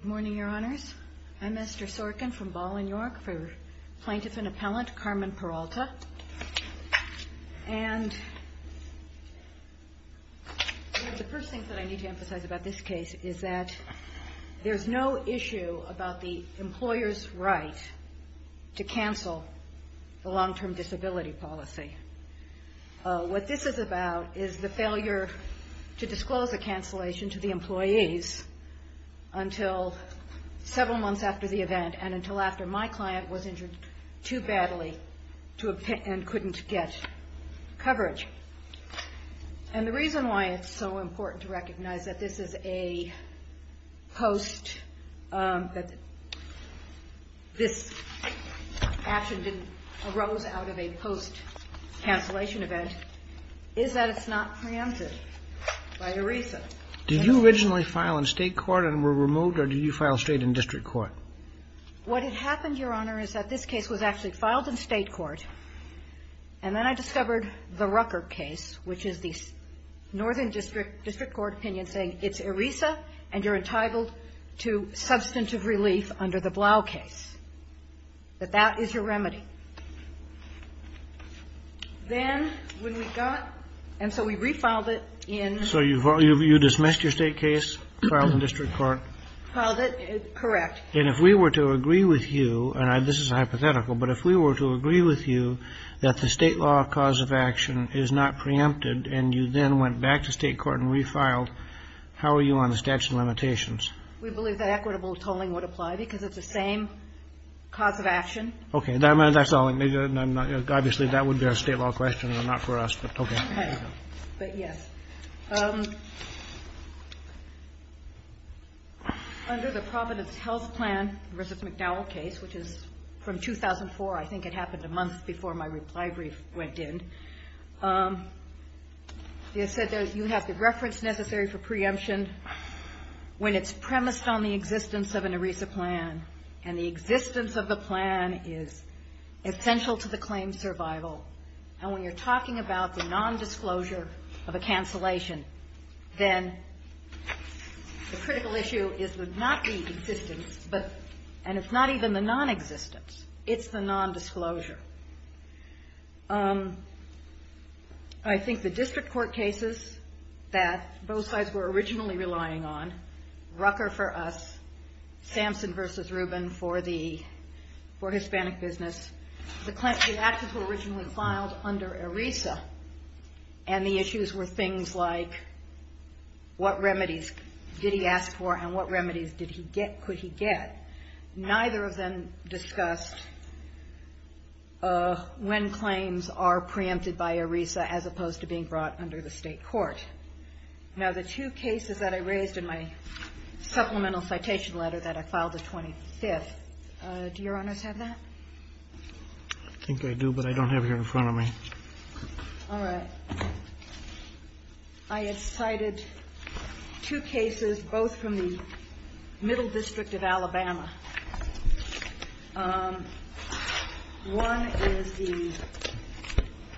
Good morning, Your Honors. I'm Esther Sorkin from Ballin, York, for Plaintiff and Appellant Carmen Peralta. And the first thing that I need to emphasize about this case is that there's no issue about the employer's right to cancel the long-term disability policy. What this is about is the failure to disclose a cancellation to the employees until several months after the event, and until after my client was injured too badly and couldn't get coverage. And the reason why it's so important to recognize that this action arose out of a post-cancellation event is that it's not preemptive by ERISA. Did you originally file in state court and were removed, or did you file straight in district court? What had happened, Your Honor, is that this case was actually filed in state court, and then I discovered the Rucker case, which is the Northern District Court opinion saying it's ERISA and you're entitled to substantive relief under the Blau case, that that is your remedy. Then when we got – and so we refiled it in – So you dismissed your state case, filed in district court. Filed it – correct. And if we were to agree with you – and this is hypothetical – but if we were to agree with you that the state law cause of action is not preempted and you then went back to state court and refiled, how are you on the statute of limitations? We believe that equitable tolling would apply because it's the same cause of action. Okay. That's all. Obviously, that would be a state law question and not for us, but okay. But yes, under the Providence Health Plan v. McDowell case, which is from 2004 – I think it happened a month before my reply brief went in – it said you have the reference necessary for preemption when it's premised on the existence of an ERISA plan, and the existence of the plan is essential to the claim's survival. And when you're talking about the nondisclosure of a cancellation, then the critical issue is not the existence, and it's not even the nonexistence. It's the nondisclosure. I think the district court cases that both sides were originally relying on – Rucker for us, Samson v. Rubin for Hispanic business – the actions were originally filed under ERISA, and the issues were things like what remedies did he ask for and what remedies could he get. Neither of them discussed when claims are preempted by ERISA as opposed to being brought under the state court. Now, the two cases that I raised in my supplemental citation letter that I filed the 25th, do Your Honors have that? I think I do, but I don't have it here in front of me. All right. I had cited two cases both from the Middle District of Alabama. One is the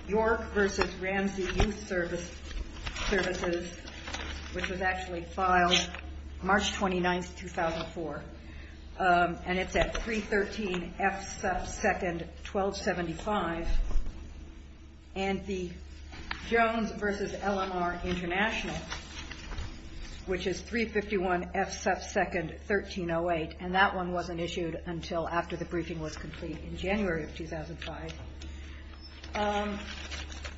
York v. Ramsey Youth Services, which was actually filed March 29th, 2004, and it's at 313 F. Seff 2nd, 1275, and the Jones v. LMR International, which is 351 F. Seff 2nd, 1308, and that one wasn't issued until after the briefing was complete in January of 2005.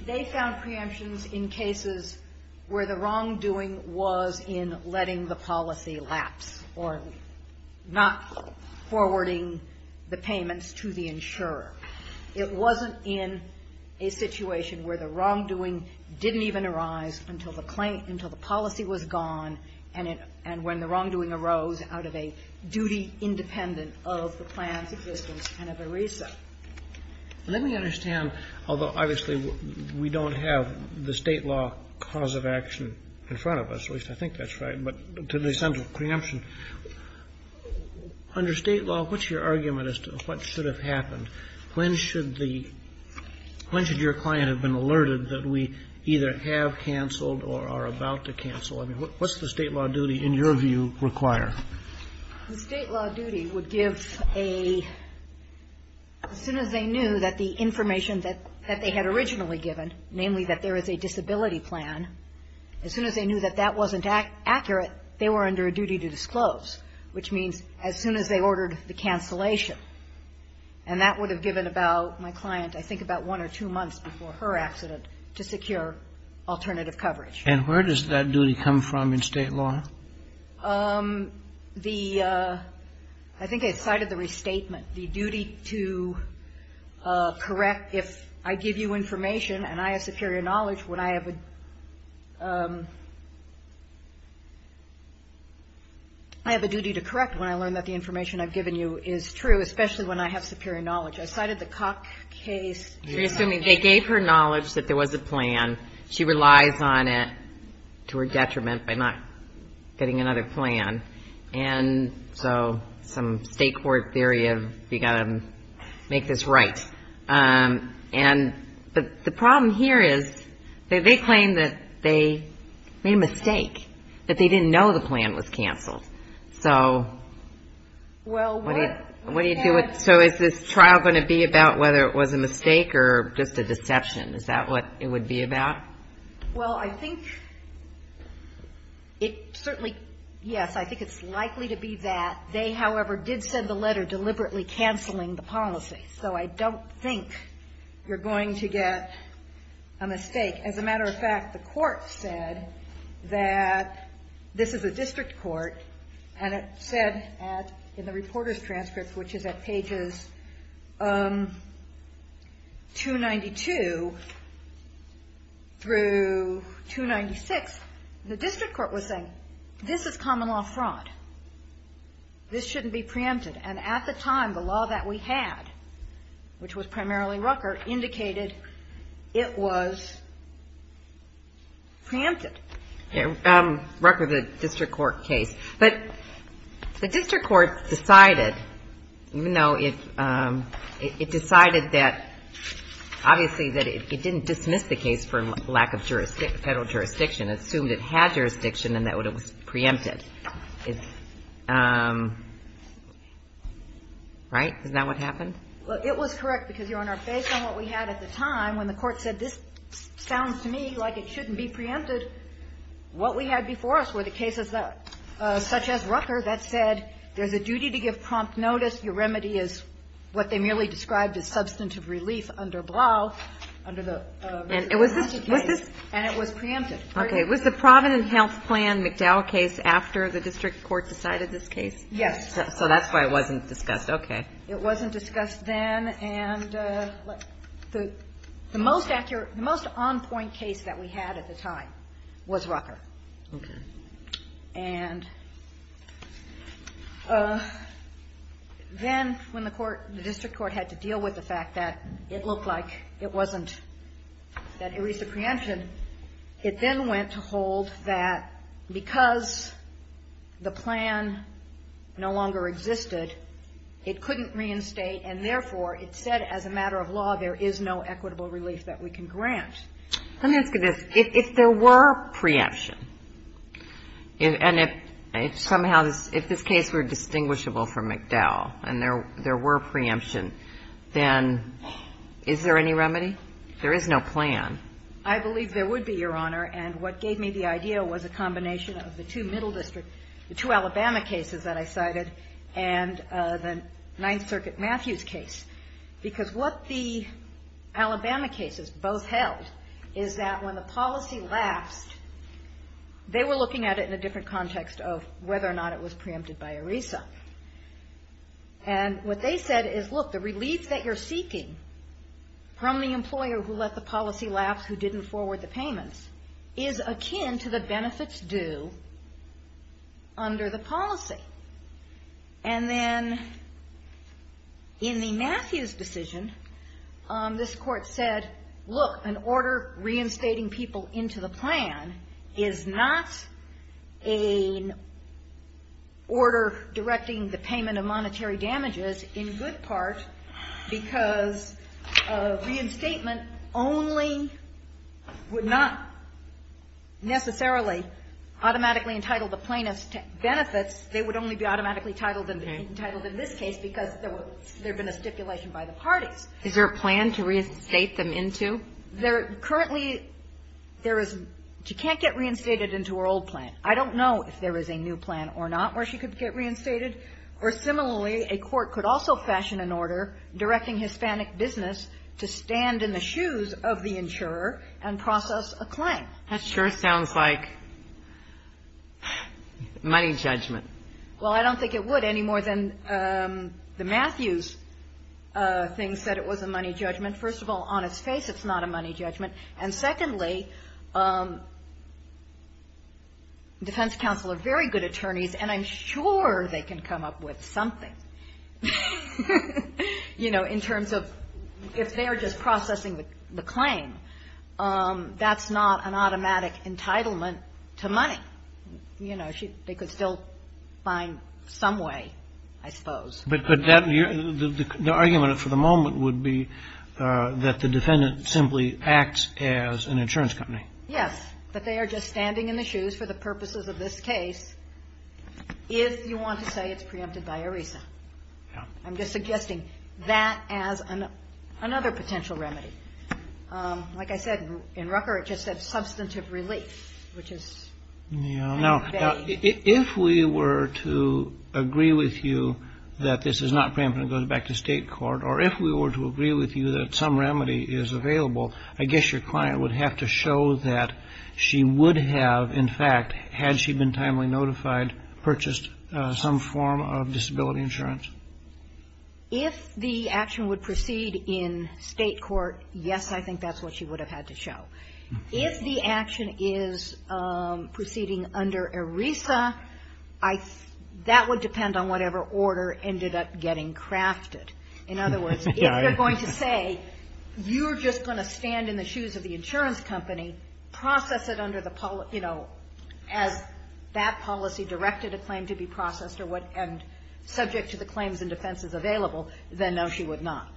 They found preemptions in cases where the wrongdoing was in letting the policy lapse, or not forwarding the payments to the insurer. It wasn't in a situation where the wrongdoing didn't even arise until the policy was gone and when the wrongdoing arose out of a duty independent of the plan's existence and of ERISA. Let me understand, although obviously we don't have the state law cause of action in front of us, which I think that's right, but to the extent of preemption, under state law, what's your argument as to what should have happened? When should your client have been alerted that we either have canceled or are about to cancel? I mean, what's the state law duty, in your view, require? The state law duty would give a, as soon as they knew that the information that they had originally given, namely that there is a disability plan, as soon as they knew that that wasn't accurate, they were under a duty to disclose, which means as soon as they ordered the cancellation. And that would have given about my client, I think about one or two months before her accident, to secure alternative coverage. And where does that duty come from in state law? The, I think I cited the restatement. The duty to correct, if I give you information and I have superior knowledge, would I have a, I have a duty to correct when I learn that the information I've given you is true, especially when I have superior knowledge. I cited the Cock case. You're assuming they gave her knowledge that there was a plan, she relies on it to her detriment by not getting another plan. And so some state court theory of you've got to make this right. And the problem here is that they claim that they made a mistake, that they didn't know the plan was canceled. So what do you do with, so is this trial going to be about whether it was a mistake or just a deception? Is that what it would be about? Well, I think it certainly, yes, I think it's likely to be that. They, however, did send the letter deliberately canceling the policy. So I don't think you're going to get a mistake. As a matter of fact, the Court said that this is a district court, and it said in the reporter's transcript, which is at pages 292 through 296, the district court was saying, this is common law fraud. This shouldn't be preempted. And at the time, the law that we had, which was primarily Rucker, indicated it was preempted. Rucker, the district court case. But the district court decided, you know, it decided that, obviously, that it didn't dismiss the case for lack of federal jurisdiction. It assumed it had jurisdiction and that it was preempted. Right? Isn't that what happened? Well, it was correct, because, Your Honor, based on what we had at the time, when the Court said this sounds to me like it shouldn't be preempted, what we had before us were the cases such as Rucker that said there's a duty to give prompt notice. Your remedy is what they merely described as substantive relief under Blau, under the Rucker case. And it was preempted. Okay. Was the Providence Health Plan McDowell case after the district court decided this case? Yes. So that's why it wasn't discussed. Okay. It wasn't discussed then. And the most accurate, the most on-point case that we had at the time was Rucker. Okay. And then when the court, the district court had to deal with the fact that it looked like it wasn't, that it was a preemption, it then went to hold that because the plan no of law there is no equitable relief that we can grant. Let me ask you this. If there were preemption, and if somehow this, if this case were distinguishable from McDowell and there were preemption, then is there any remedy? There is no plan. I believe there would be, Your Honor. And what gave me the idea was a combination of the two middle district, the two Alabama cases that I cited, and the Ninth Circuit Matthews case. Because what the Alabama cases both held is that when the policy lapsed, they were looking at it in a different context of whether or not it was preempted by ERISA. And what they said is, look, the relief that you're seeking from the employer who let the policy lapse, who didn't forward the payments, is akin to the benefits due under the policy. And then in the Matthews decision, this court said, look, an order reinstating people into the plan is not an order directing the payment of monetary damages in good part because reinstatement only would not necessarily automatically entitle the plaintiff's benefits. They would only be automatically entitled in this case because there had been a stipulation by the parties. Is there a plan to reinstate them into? Currently, there is. She can't get reinstated into her old plan. I don't know if there is a new plan or not where she could get reinstated. Or similarly, a court could also fashion an order directing Hispanic business to stand in the shoes of the insurer and process a claim. That sure sounds like money judgment. Well, I don't think it would any more than the Matthews thing said it was a money judgment. First of all, on its face, it's not a money judgment. And secondly, defense counsel are very good attorneys, and I'm sure they can come up with something, you know, in terms of if they are just processing the claim, that's not an automatic entitlement to money. You know, they could still find some way, I suppose. But the argument for the moment would be that the defendant simply acts as an insurance company. Yes. But they are just standing in the shoes for the purposes of this case if you want to say it's preempted by ERISA. I'm just suggesting that as another potential remedy. Like I said, in Rucker, it just said substantive relief, which is. Now, if we were to agree with you that this is not preempted and goes back to state court, or if we were to agree with you that some remedy is available, I guess your client would have to show that she would have, in fact, had she been timely notified, purchased some form of disability insurance. If the action would proceed in state court, yes, I think that's what she would have had to show. If the action is proceeding under ERISA, that would depend on whatever order ended up getting crafted. In other words, if you're going to say you're just going to stand in the shoes of the insurance company, process it under the, you know, as that policy directed a claim to be processed and subject to the claims and defenses available, then no, she would not.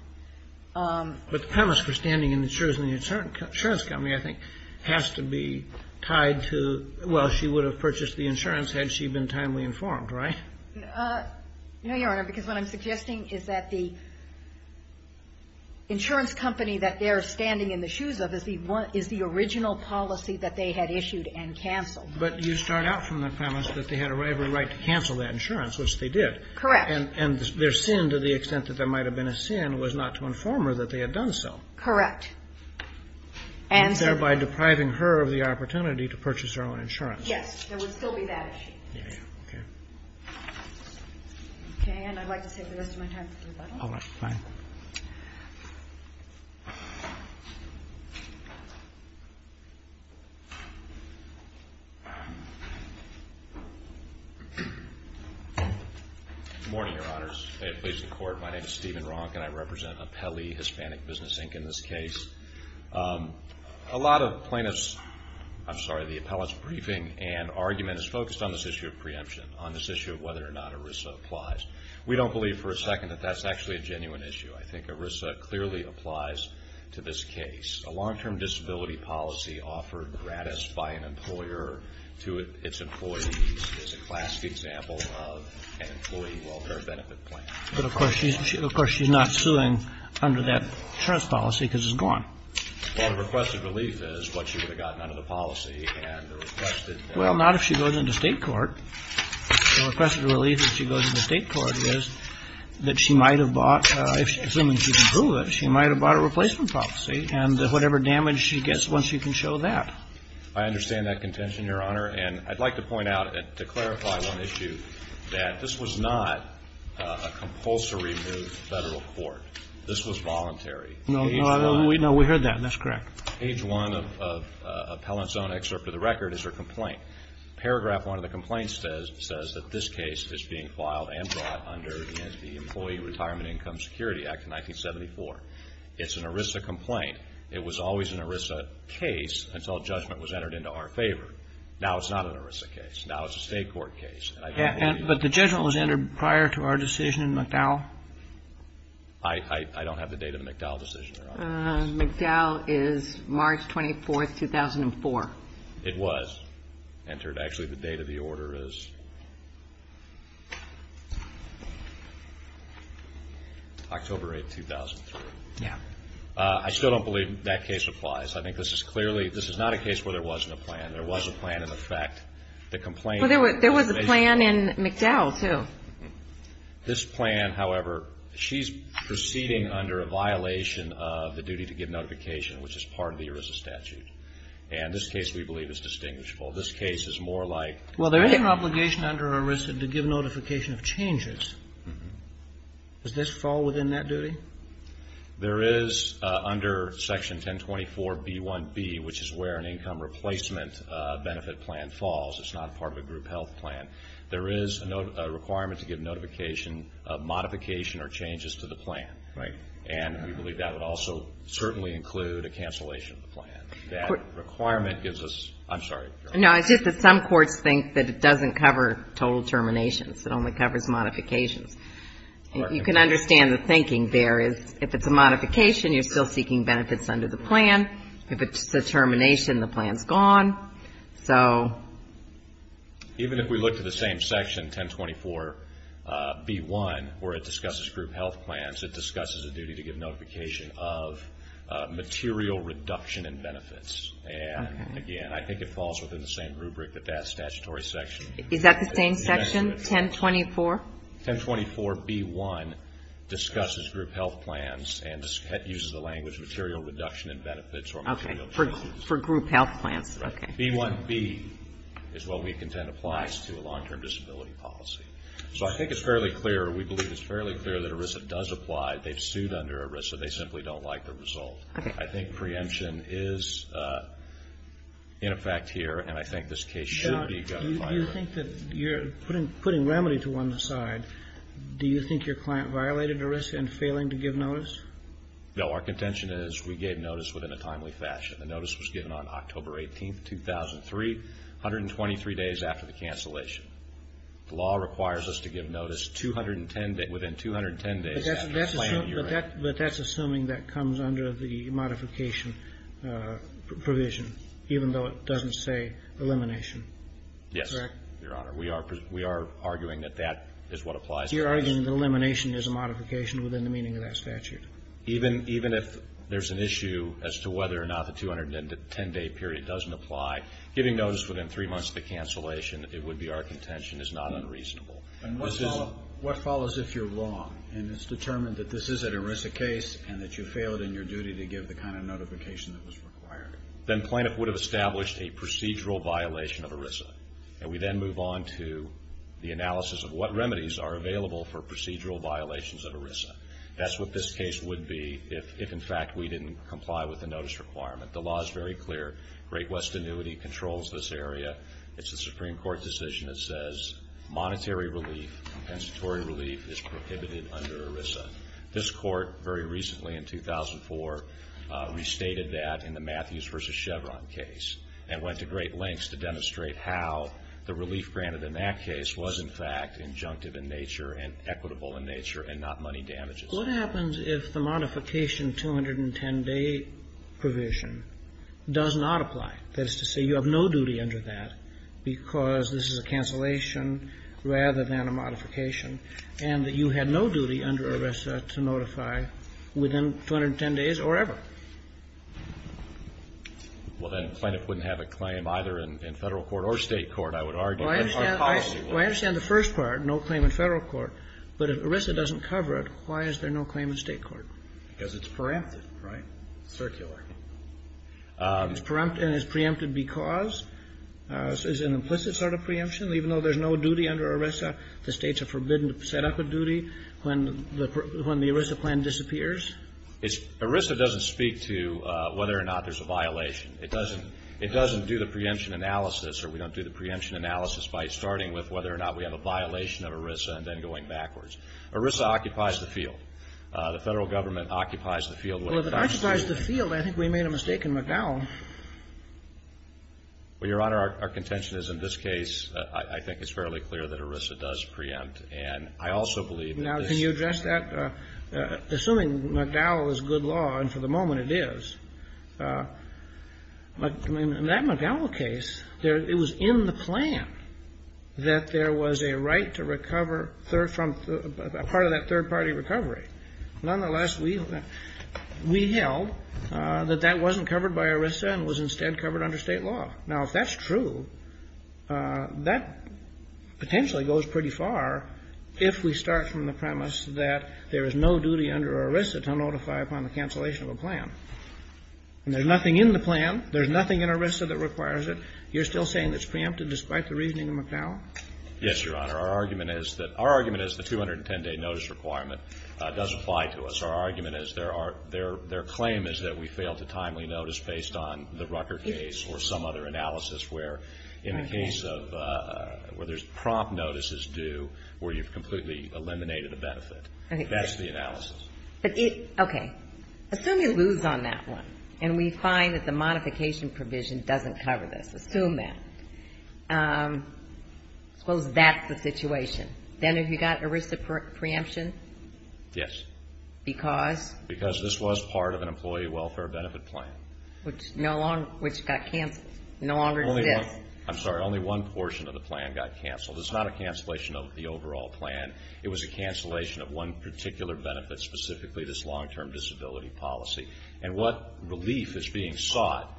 But the premise for standing in the shoes of the insurance company, I think, has to be tied to, well, she would have purchased the insurance had she been timely informed, right? No, Your Honor, because what I'm suggesting is that the insurance company that they're standing in the shoes of is the original policy that they had issued and canceled. But you start out from the premise that they had every right to cancel that insurance, which they did. Correct. And their sin, to the extent that there might have been a sin, was not to inform her that they had done so. Correct. And thereby depriving her of the opportunity to purchase her own insurance. Yes. There would still be that issue. Yeah, yeah. Okay. Okay, and I'd like to save the rest of my time for rebuttal. All right. Fine. Good morning, Your Honors. May it please the Court. My name is Steven Ronk, and I represent Apelli Hispanic Business, Inc. in this case. A lot of plaintiffs, I'm sorry, the appellate's briefing and argument is focused on this issue of preemption, on this issue of whether or not ERISA applies. We don't believe for a second that that's actually a genuine issue. I think ERISA clearly applies to this case. A long-term disability policy offered gratis by an employer to its employees is a classic example of an employee welfare benefit plan. But, of course, she's not suing under that insurance policy because it's gone. Well, the requested relief is what she would have gotten under the policy, and the requested — Well, not if she goes into state court. Well, the requested relief if she goes into state court is that she might have bought, assuming she can prove it, she might have bought a replacement policy, and whatever damage she gets, well, she can show that. I understand that contention, Your Honor. And I'd like to point out, to clarify one issue, that this was not a compulsory move to Federal court. This was voluntary. No, we heard that, and that's correct. Page 1 of Appellant's own excerpt of the record is her complaint. Paragraph 1 of the complaint says that this case is being filed and brought under the Employee Retirement Income Security Act of 1974. It's an ERISA complaint. It was always an ERISA case until judgment was entered into our favor. Now it's not an ERISA case. Now it's a state court case. But the judgment was entered prior to our decision in McDowell? I don't have the date of the McDowell decision, Your Honor. McDowell is March 24, 2004. It was entered. Actually, the date of the order is October 8, 2003. Yeah. I still don't believe that case applies. I think this is clearly – this is not a case where there wasn't a plan. There was a plan in effect. The complaint – Well, there was a plan in McDowell, too. This plan, however, she's proceeding under a violation of the duty to give notification, which is part of the ERISA statute. And this case, we believe, is distinguishable. This case is more like – Well, there is an obligation under ERISA to give notification of changes. Does this fall within that duty? There is under Section 1024b1b, which is where an income replacement benefit plan falls. It's not part of a group health plan. There is a requirement to give notification of modification or changes to the plan. Right. And we believe that would also certainly include a cancellation of the plan. That requirement gives us – I'm sorry. No, it's just that some courts think that it doesn't cover total terminations. It only covers modifications. You can understand the thinking there is if it's a modification, you're still seeking benefits under the plan. If it's a termination, the plan's gone. So – Even if we look to the same section, 1024b1, where it discusses group health plans, it discusses a duty to give notification of material reduction in benefits. And, again, I think it falls within the same rubric that that statutory section – Is that the same section? 1024? 1024b1 discusses group health plans and uses the language material reduction in benefits or material changes. For group health plans. Right. 1024b1b is what we contend applies to a long-term disability policy. So I think it's fairly clear – we believe it's fairly clear that ERISA does apply. They've sued under ERISA. They simply don't like the result. Okay. I think preemption is in effect here, and I think this case should be – John, do you think that you're putting remedy to one side? Do you think your client violated ERISA in failing to give notice? No. Our contention is we gave notice within a timely fashion. The notice was given on October 18, 2003, 123 days after the cancellation. The law requires us to give notice within 210 days after a planning year. But that's assuming that comes under the modification provision, even though it doesn't say elimination. Yes. Correct? Your Honor, we are arguing that that is what applies to this. You're arguing that elimination is a modification within the meaning of that statute. Even if there's an issue as to whether or not the 210-day period doesn't apply, giving notice within three months of the cancellation, it would be our contention, is not unreasonable. What follows if you're wrong and it's determined that this is an ERISA case and that you failed in your duty to give the kind of notification that was required? Then plaintiff would have established a procedural violation of ERISA. And we then move on to the analysis of what remedies are available for procedural violations of ERISA. That's what this case would be if, in fact, we didn't comply with the notice requirement. The law is very clear. Great West Annuity controls this area. It's a Supreme Court decision that says monetary relief, compensatory relief, is prohibited under ERISA. This Court, very recently in 2004, restated that in the Matthews v. Chevron case and went to great lengths to demonstrate how the relief granted in that case was, in fact, injunctive in nature and equitable in nature and not money damages. What happens if the modification 210-day provision does not apply? That is to say you have no duty under that because this is a cancellation rather than a modification and that you had no duty under ERISA to notify within 210 days or ever? Well, then plaintiff wouldn't have a claim either in Federal court or State court, I would argue. Well, I understand the first part, no claim in Federal court. But if ERISA doesn't cover it, why is there no claim in State court? Because it's preempted, right? Circular. It's preempted because? Is it an implicit sort of preemption? Even though there's no duty under ERISA, the States are forbidden to set up a duty when the ERISA plan disappears? ERISA doesn't speak to whether or not there's a violation. It doesn't. It doesn't do the preemption analysis or we don't do the preemption analysis by starting with whether or not we have a violation of ERISA and then going backwards. ERISA occupies the field. The Federal government occupies the field. Well, if it occupies the field, I think we made a mistake in McDowell. Well, Your Honor, our contention is in this case, I think it's fairly clear that ERISA does preempt. And I also believe that this. Now, can you address that? Assuming McDowell is good law, and for the moment it is, in that McDowell case, it was in the plan that there was a right to recover part of that third-party recovery. Nonetheless, we held that that wasn't covered by ERISA and was instead covered under State law. Now, if that's true, that potentially goes pretty far if we start from the premise that there is no duty under ERISA to notify upon the cancellation of a plan. And there's nothing in the plan. There's nothing in ERISA that requires it. You're still saying it's preempted despite the reasoning of McDowell? Yes, Your Honor. Our argument is that the 210-day notice requirement does apply to us. Our argument is there are – their claim is that we failed to timely notice based on the Rucker case or some other analysis where in the case of – where there's That's the analysis. Okay. Assume you lose on that one, and we find that the modification provision doesn't cover this. Assume that. I suppose that's the situation. Then have you got ERISA preemption? Yes. Because? Because this was part of an employee welfare benefit plan. Which no longer – which got canceled. No longer exists. I'm sorry. Only one portion of the plan got canceled. It's not a cancellation of the overall plan. It was a cancellation of one particular benefit, specifically this long-term disability policy. And what relief is being sought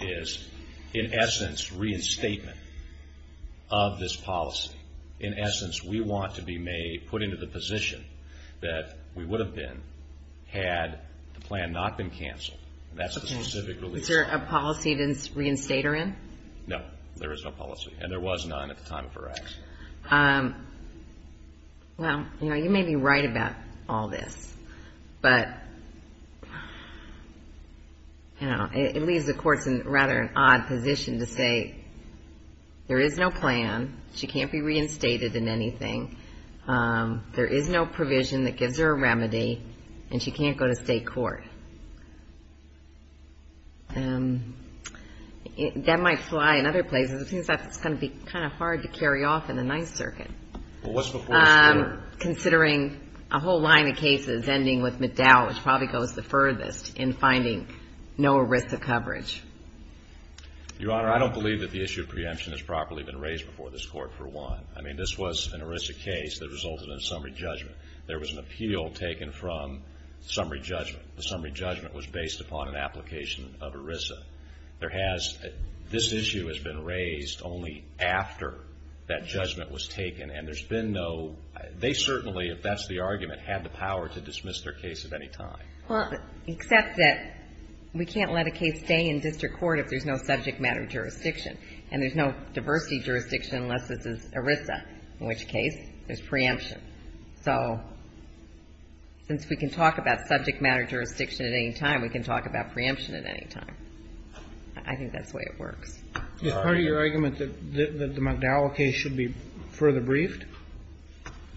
is, in essence, reinstatement of this policy. In essence, we want to be made – put into the position that we would have been had the plan not been canceled. That's the specific relief. Is there a policy to reinstate her in? No. There is no policy. And there was none at the time of her action. Well, you know, you may be right about all this. But, you know, it leaves the courts in rather an odd position to say, there is no plan. She can't be reinstated in anything. There is no provision that gives her a remedy. And she can't go to state court. That might fly in other places. It seems like it's going to be kind of hard to carry off in the Ninth Circuit. Well, what's before us here? Considering a whole line of cases ending with Meddow, which probably goes the furthest, in finding no ERISA coverage. Your Honor, I don't believe that the issue of preemption has properly been raised before this Court, for one. I mean, this was an ERISA case that resulted in a summary judgment. There was an appeal taken from summary judgment. The summary judgment was based upon an application of ERISA. There has, this issue has been raised only after that judgment was taken. And there's been no, they certainly, if that's the argument, had the power to dismiss their case at any time. Well, except that we can't let a case stay in district court if there's no subject matter jurisdiction. And there's no diversity jurisdiction unless it's ERISA, in which case there's preemption. So since we can talk about subject matter jurisdiction at any time, we can talk about preemption at any time. I think that's the way it works. Is part of your argument that the Meddow case should be further briefed?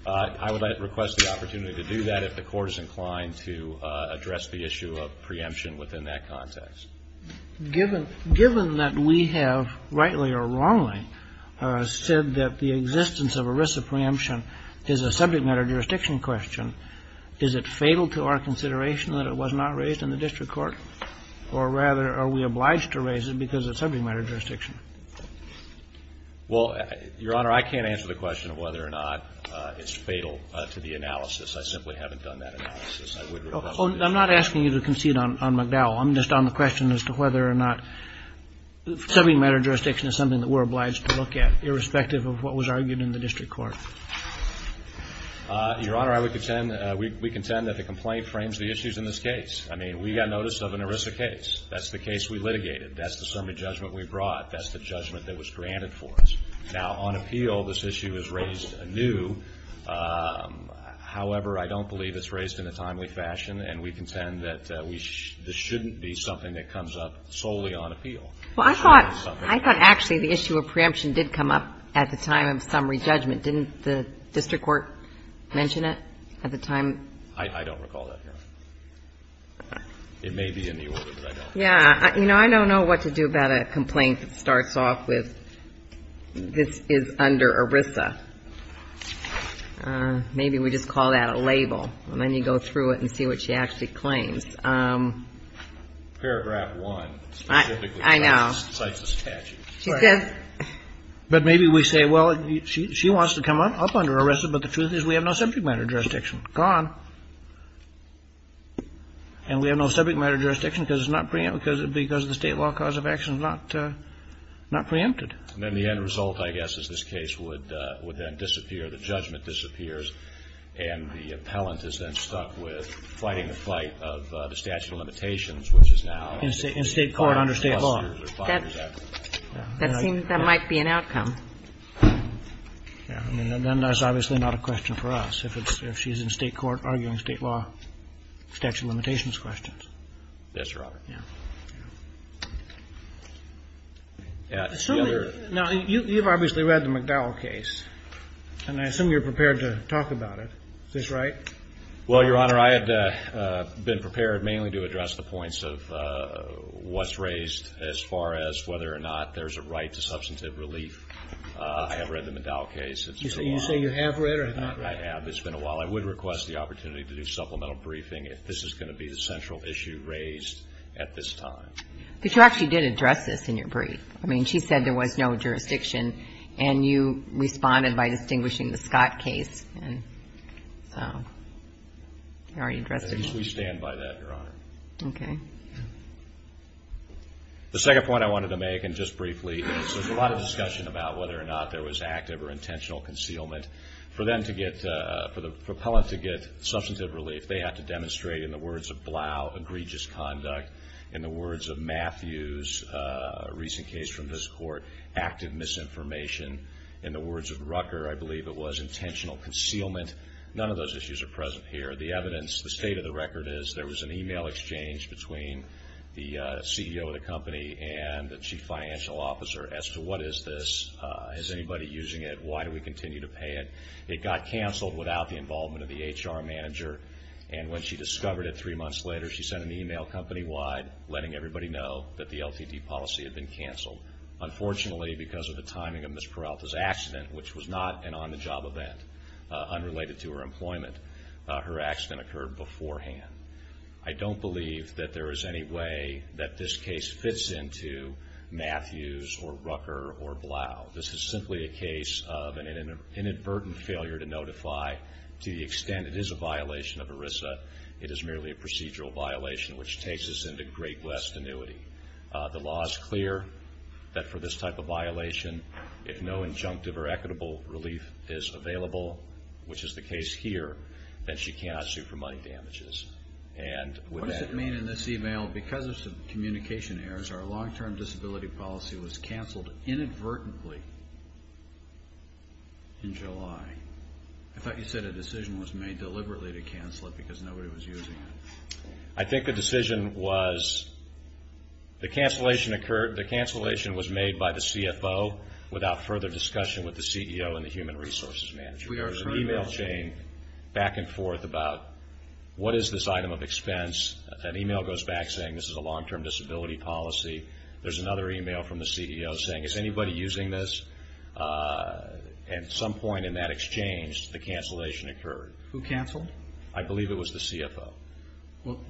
I would request the opportunity to do that if the Court is inclined to address the issue of preemption within that context. Given that we have, rightly or wrongly, said that the existence of ERISA preemption is a subject matter jurisdiction question, is it fatal to our consideration that it was not raised in the district court? Or rather, are we obliged to raise it because it's subject matter jurisdiction? Well, Your Honor, I can't answer the question of whether or not it's fatal to the analysis. I simply haven't done that analysis. I would request to do that. I'm not asking you to concede on Meddow. I'm just on the question as to whether or not subject matter jurisdiction is something that we're obliged to look at, irrespective of what was argued in the district court. Your Honor, I would contend, we contend that the complaint frames the issues in this case. I mean, we got notice of an ERISA case. That's the case we litigated. That's the summary judgment we brought. That's the judgment that was granted for us. Now, on appeal, this issue is raised anew. However, I don't believe it's raised in a timely fashion. And we contend that this shouldn't be something that comes up solely on appeal. Well, I thought actually the issue of preemption did come up at the time of summary judgment. Didn't the district court mention it at the time? I don't recall that, Your Honor. It may be in the order, but I don't know. Yeah. You know, I don't know what to do about a complaint that starts off with this is under ERISA. Maybe we just call that a label. And then you go through it and see what she actually claims. Paragraph 1. I know. Cites this statute. She says. But maybe we say, well, she wants to come up under ERISA, but the truth is we have no subject matter jurisdiction. Gone. And we have no subject matter jurisdiction because it's not preempted, because the State law cause of action is not preempted. And then the end result, I guess, is this case would then disappear, the judgment disappears, and the appellant is then stuck with fighting the fight of the statute of limitations, which is now. In State court under State law. That might be an outcome. Then that's obviously not a question for us. If she's in State court arguing State law statute of limitations questions. Yes, Your Honor. Yeah. Now, you've obviously read the McDowell case. And I assume you're prepared to talk about it. Is this right? Well, Your Honor, I had been prepared mainly to address the points of what's raised as far as whether or not there's a right to substantive relief. I have read the McDowell case. You say you have read it or not? I have. It's been a while. I would request the opportunity to do supplemental briefing if this is going to be the central issue raised at this time. But you actually did address this in your brief. I mean, she said there was no jurisdiction. And you responded by distinguishing the Scott case. So you already addressed it. Yes, we stand by that, Your Honor. Okay. The second point I wanted to make, and just briefly, is there's a lot of discussion about whether or not there was active or intentional concealment. For them to get, for the appellant to get substantive relief, they have to demonstrate in the words of Blau, egregious conduct. In the words of Matthews, a recent case from this Court, active misinformation. In the words of Rucker, I believe it was intentional concealment. None of those issues are present here. The evidence, the state of the record is there was an email exchange between the CEO of the company and the chief financial officer as to what is this, is anybody using it, why do we continue to pay it. It got canceled without the involvement of the HR manager. And when she discovered it three months later, she sent an email company-wide letting everybody know that the LTD policy had been canceled. Unfortunately, because of the timing of Ms. Peralta's accident, which was not an on-the-job event, unrelated to her employment, her accident occurred beforehand. I don't believe that there is any way that this case fits into Matthews or Rucker or Blau. This is simply a case of an inadvertent failure to notify to the extent it is a violation of ERISA. It is merely a procedural violation, which takes us into Great West annuity. The law is clear that for this type of violation, if no injunctive or equitable relief is available, which is the case here, then she cannot sue for money damages. What does it mean in this email? Because of communication errors, our long-term disability policy was canceled inadvertently in July. I thought you said a decision was made deliberately to cancel it because nobody was using it. I think the decision was, the cancellation occurred, the cancellation was made by the CFO without further discussion with the CEO and the human resources manager. There was an email chain back and forth about what is this item of expense. That email goes back saying this is a long-term disability policy. There is another email from the CEO saying, is anybody using this? At some point in that exchange, the cancellation occurred. Who canceled? I believe it was the CFO.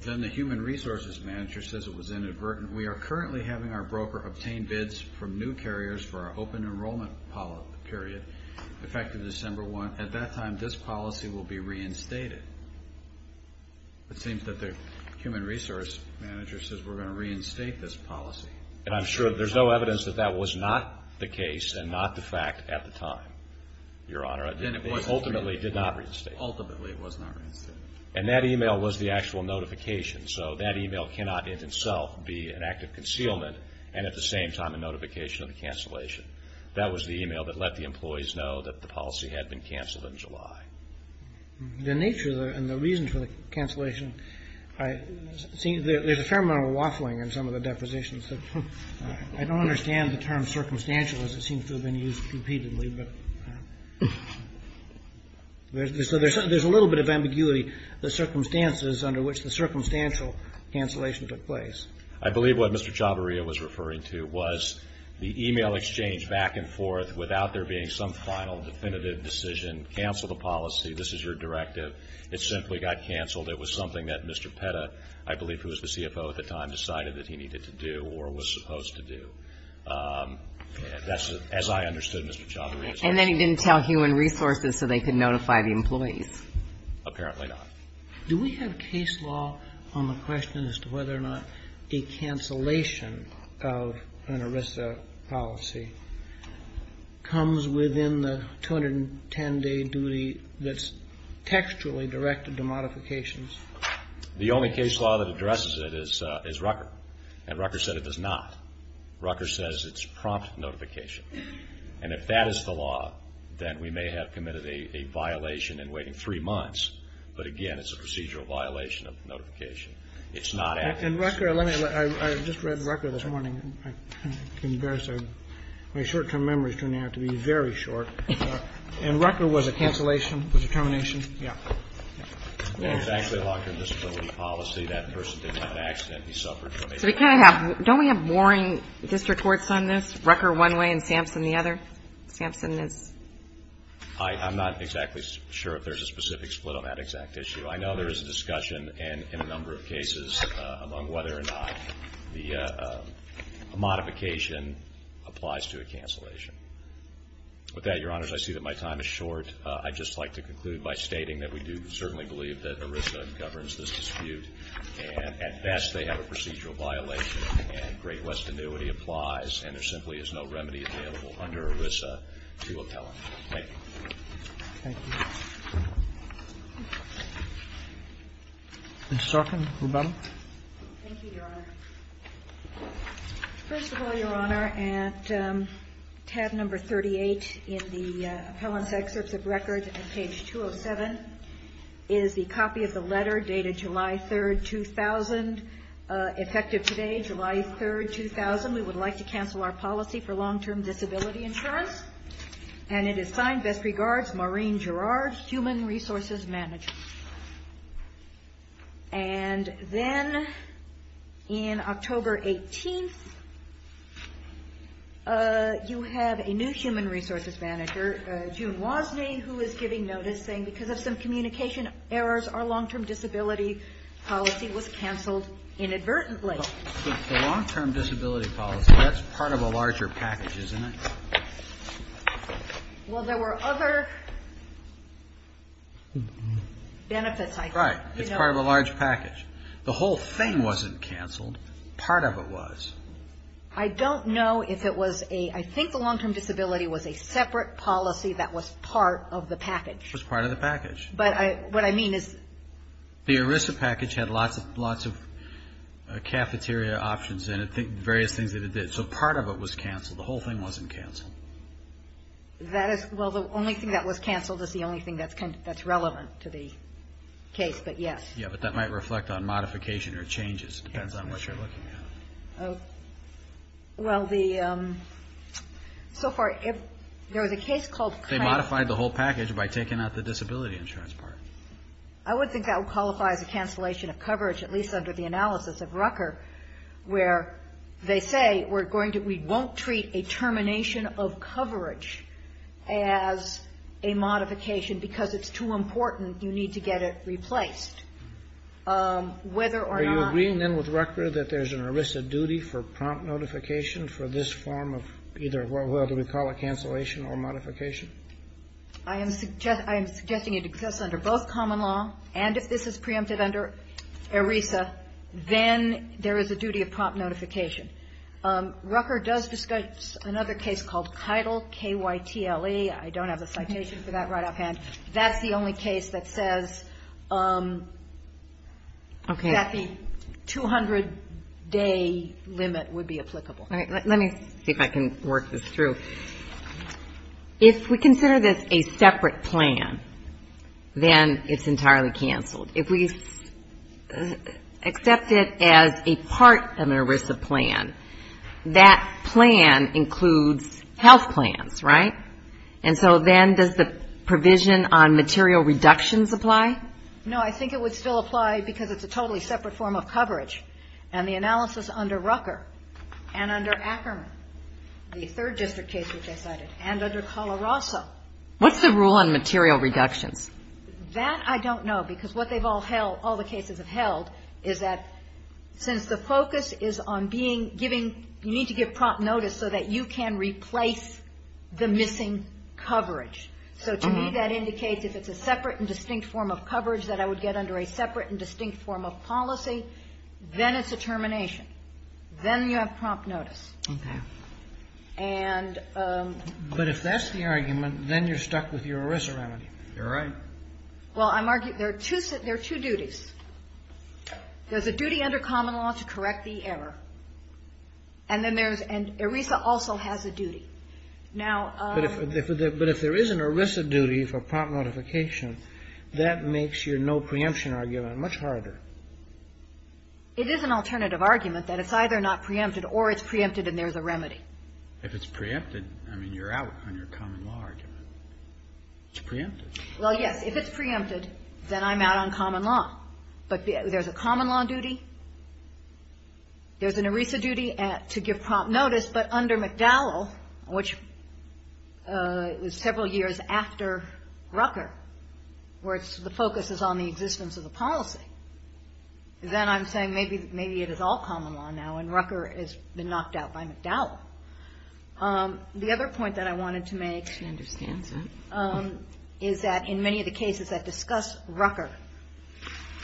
Then the human resources manager says it was inadvertent. We are currently having our broker obtain bids from new carriers for our open enrollment period, effective December 1. At that time, this policy will be reinstated. It seems that the human resources manager says we're going to reinstate this policy. I'm sure there's no evidence that that was not the case and not the fact at the time, Your Honor. It ultimately did not reinstate it. Ultimately it was not reinstated. And that email was the actual notification. So that email cannot in itself be an act of concealment and at the same time a notification of the cancellation. That was the email that let the employees know that the policy had been canceled in July. The nature and the reason for the cancellation, there's a fair amount of waffling in some of the depositions. I don't understand the term circumstantial as it seems to have been used repeatedly. So there's a little bit of ambiguity, the circumstances under which the circumstantial cancellation took place. I believe what Mr. Chavarria was referring to was the email exchange back and forth without there being some final definitive decision, cancel the policy, this is your directive. It simply got canceled. It was something that Mr. Petta, I believe who was the CFO at the time, decided that he needed to do or was supposed to do. That's as I understood Mr. Chavarria's argument. And then he didn't tell human resources so they could notify the employees. Apparently not. Do we have case law on the question as to whether or not a cancellation of an ERISA policy comes within the 210-day duty that's textually directed to modifications? The only case law that addresses it is Rucker. And Rucker said it does not. Rucker says it's prompt notification. And if that is the law, then we may have committed a violation in waiting three months. But, again, it's a procedural violation of notification. It's not at this point. And Rucker, let me, I just read Rucker this morning. I'm embarrassed. My short-term memory is turning out to be very short. And Rucker was a cancellation, was a termination? Yeah. It was actually a long-term disability policy. That person didn't have an accident. He suffered from a disability. So we kind of have, don't we have boring district courts on this? Rucker one way and Sampson the other? Sampson is? I'm not exactly sure if there's a specific split on that exact issue. I know there is a discussion in a number of cases among whether or not the modification applies to a cancellation. With that, Your Honors, I see that my time is short. I'd just like to conclude by stating that we do certainly believe that ERISA governs this dispute. And, at best, they have a procedural violation. And Great West Annuity applies. And there simply is no remedy available under ERISA to appellant. Thank you. Thank you. Ms. Starkin, Rebecca? Thank you, Your Honor. First of all, Your Honor, at tab number 38 in the appellant's excerpts of records at page 207 is the copy of the letter dated July 3rd, 2000. Effective today, July 3rd, 2000. We would like to cancel our policy for long-term disability insurance. And it is signed, best regards, Maureen Gerard, Human Resources Manager. And then in October 18th, you have a new Human Resources Manager, June Wozniak, who is giving notice saying because of some communication errors, our long-term disability policy was canceled inadvertently. The long-term disability policy, that's part of a larger package, isn't it? Well, there were other benefits, I think. Right. It's part of a large package. The whole thing wasn't canceled. Part of it was. I don't know if it was a – I think the long-term disability was a separate policy that was part of the package. It was part of the package. But what I mean is – The ERISA package had lots of cafeteria options in it, various things that it did. So part of it was canceled. The whole thing wasn't canceled. Well, the only thing that was canceled is the only thing that's relevant to the case, but yes. Yeah, but that might reflect on modification or changes. It depends on what you're looking at. Well, so far there was a case called – They modified the whole package by taking out the disability insurance part. I would think that would qualify as a cancellation of coverage, at least under the analysis of Rucker, where they say we won't treat a termination of coverage as a modification because it's too important. You need to get it replaced. Whether or not – Are you agreeing then with Rucker that there's an ERISA duty for prompt notification for this form of either – what we call a cancellation or modification? I am suggesting it exists under both common law. And if this is preempted under ERISA, then there is a duty of prompt notification. Rucker does discuss another case called Keitel, K-Y-T-L-E. I don't have the citation for that right offhand. That's the only case that says that the 200-day limit would be applicable. Let me see if I can work this through. If we consider this a separate plan, then it's entirely canceled. If we accept it as a part of an ERISA plan, that plan includes health plans, right? And so then does the provision on material reductions apply? No. I think it would still apply because it's a totally separate form of coverage. And the analysis under Rucker and under Ackerman, the third district case which I cited, and under Coloroso. What's the rule on material reductions? That I don't know because what they've all held, all the cases have held, is that since the focus is on being – giving – you need to give prompt notice so that you can replace the missing coverage. So to me, that indicates if it's a separate and distinct form of coverage that I would get under a separate and distinct form of policy, then it's a termination. Then you have prompt notice. Okay. And – But if that's the argument, then you're stuck with your ERISA remedy. You're right. Well, I'm – there are two duties. There's a duty under common law to correct the error. And then there's – and ERISA also has a duty. Now – But if there is an ERISA duty for prompt notification, that makes your no preemption argument much harder. It is an alternative argument that it's either not preempted or it's preempted and there's a remedy. If it's preempted, I mean, you're out on your common law argument. It's preempted. Well, yes. If it's preempted, then I'm out on common law. But there's a common law duty. There's an ERISA duty to give prompt notice. But under McDowell, which was several years after Rucker, where the focus is on the existence of the policy, then I'm saying maybe it is all common law now and Rucker has been knocked out by McDowell. The other point that I wanted to make – She understands it. – is that in many of the cases that discuss Rucker,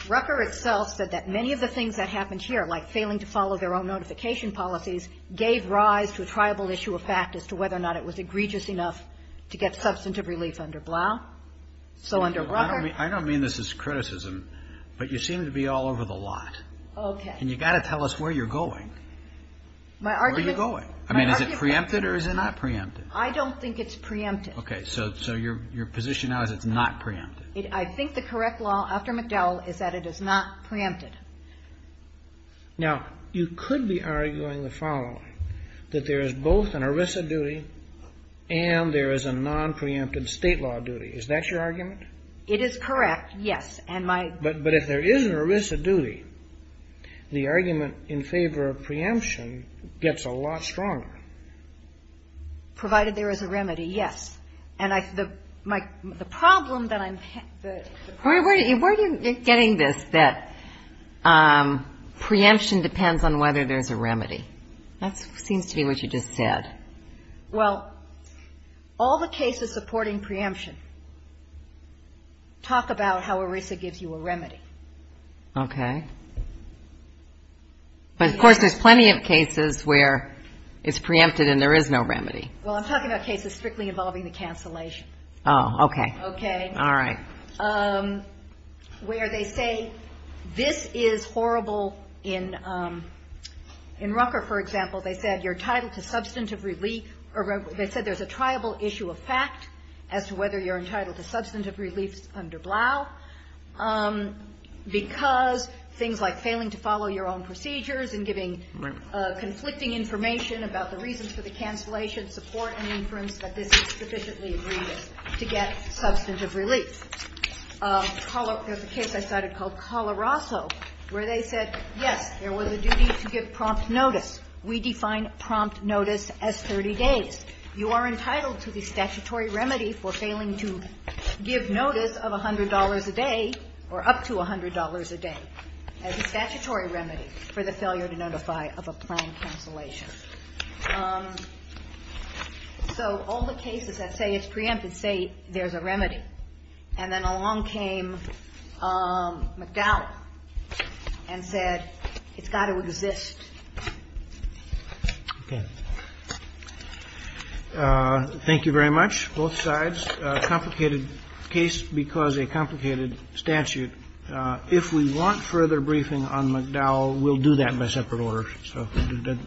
Rucker itself said that many of the things that happened here, like failing to follow their own notification policies, gave rise to a triable issue of fact as to whether or not it was egregious enough to get substantive relief under Blau. So under Rucker – I don't mean this as criticism, but you seem to be all over the lot. Okay. And you've got to tell us where you're going. My argument – Where are you going? I mean, is it preempted or is it not preempted? I don't think it's preempted. Okay. So your position now is it's not preempted. I think the correct law after McDowell is that it is not preempted. Now, you could be arguing the following, that there is both an ERISA duty and there is a non-preemptive state law duty. Is that your argument? It is correct, yes. But if there is an ERISA duty, the argument in favor of preemption gets a lot stronger. Provided there is a remedy, yes. And the problem that I'm – Where are you getting this, that preemption depends on whether there's a remedy? That seems to be what you just said. Well, all the cases supporting preemption talk about how ERISA gives you a remedy. Okay. But, of course, there's plenty of cases where it's preempted and there is no remedy. Well, I'm talking about cases strictly involving the cancellation. Oh, okay. Okay. All right. Where they say this is horrible in – in Rucker, for example, they said you're entitled to substantive relief – they said there's a triable issue of fact as to whether you're entitled to substantive relief under Blau, because things like failing to follow your own procedures and giving conflicting information about the reasons for the cancellation support an inference that this is sufficiently egregious to get substantive relief. There's a case I cited called Colorazzo, where they said, yes, there was a duty to give prompt notice. We define prompt notice as 30 days. You are entitled to the statutory remedy for failing to give notice of $100 a day or up to $100 a day as a statutory remedy for the failure to notify of a planned cancellation. So all the cases that say it's preempted say there's a remedy. And then along came McDowell and said it's got to exist. Okay. Thank you very much. Both sides. Complicated case because a complicated statute. If we want further briefing on McDowell, we'll do that in a separate order. So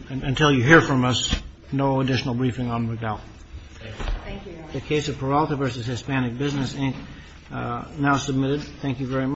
until you hear from us, no additional briefing on McDowell. The case of Peralta v. Hispanic Business, Inc., now submitted. Thank you very much.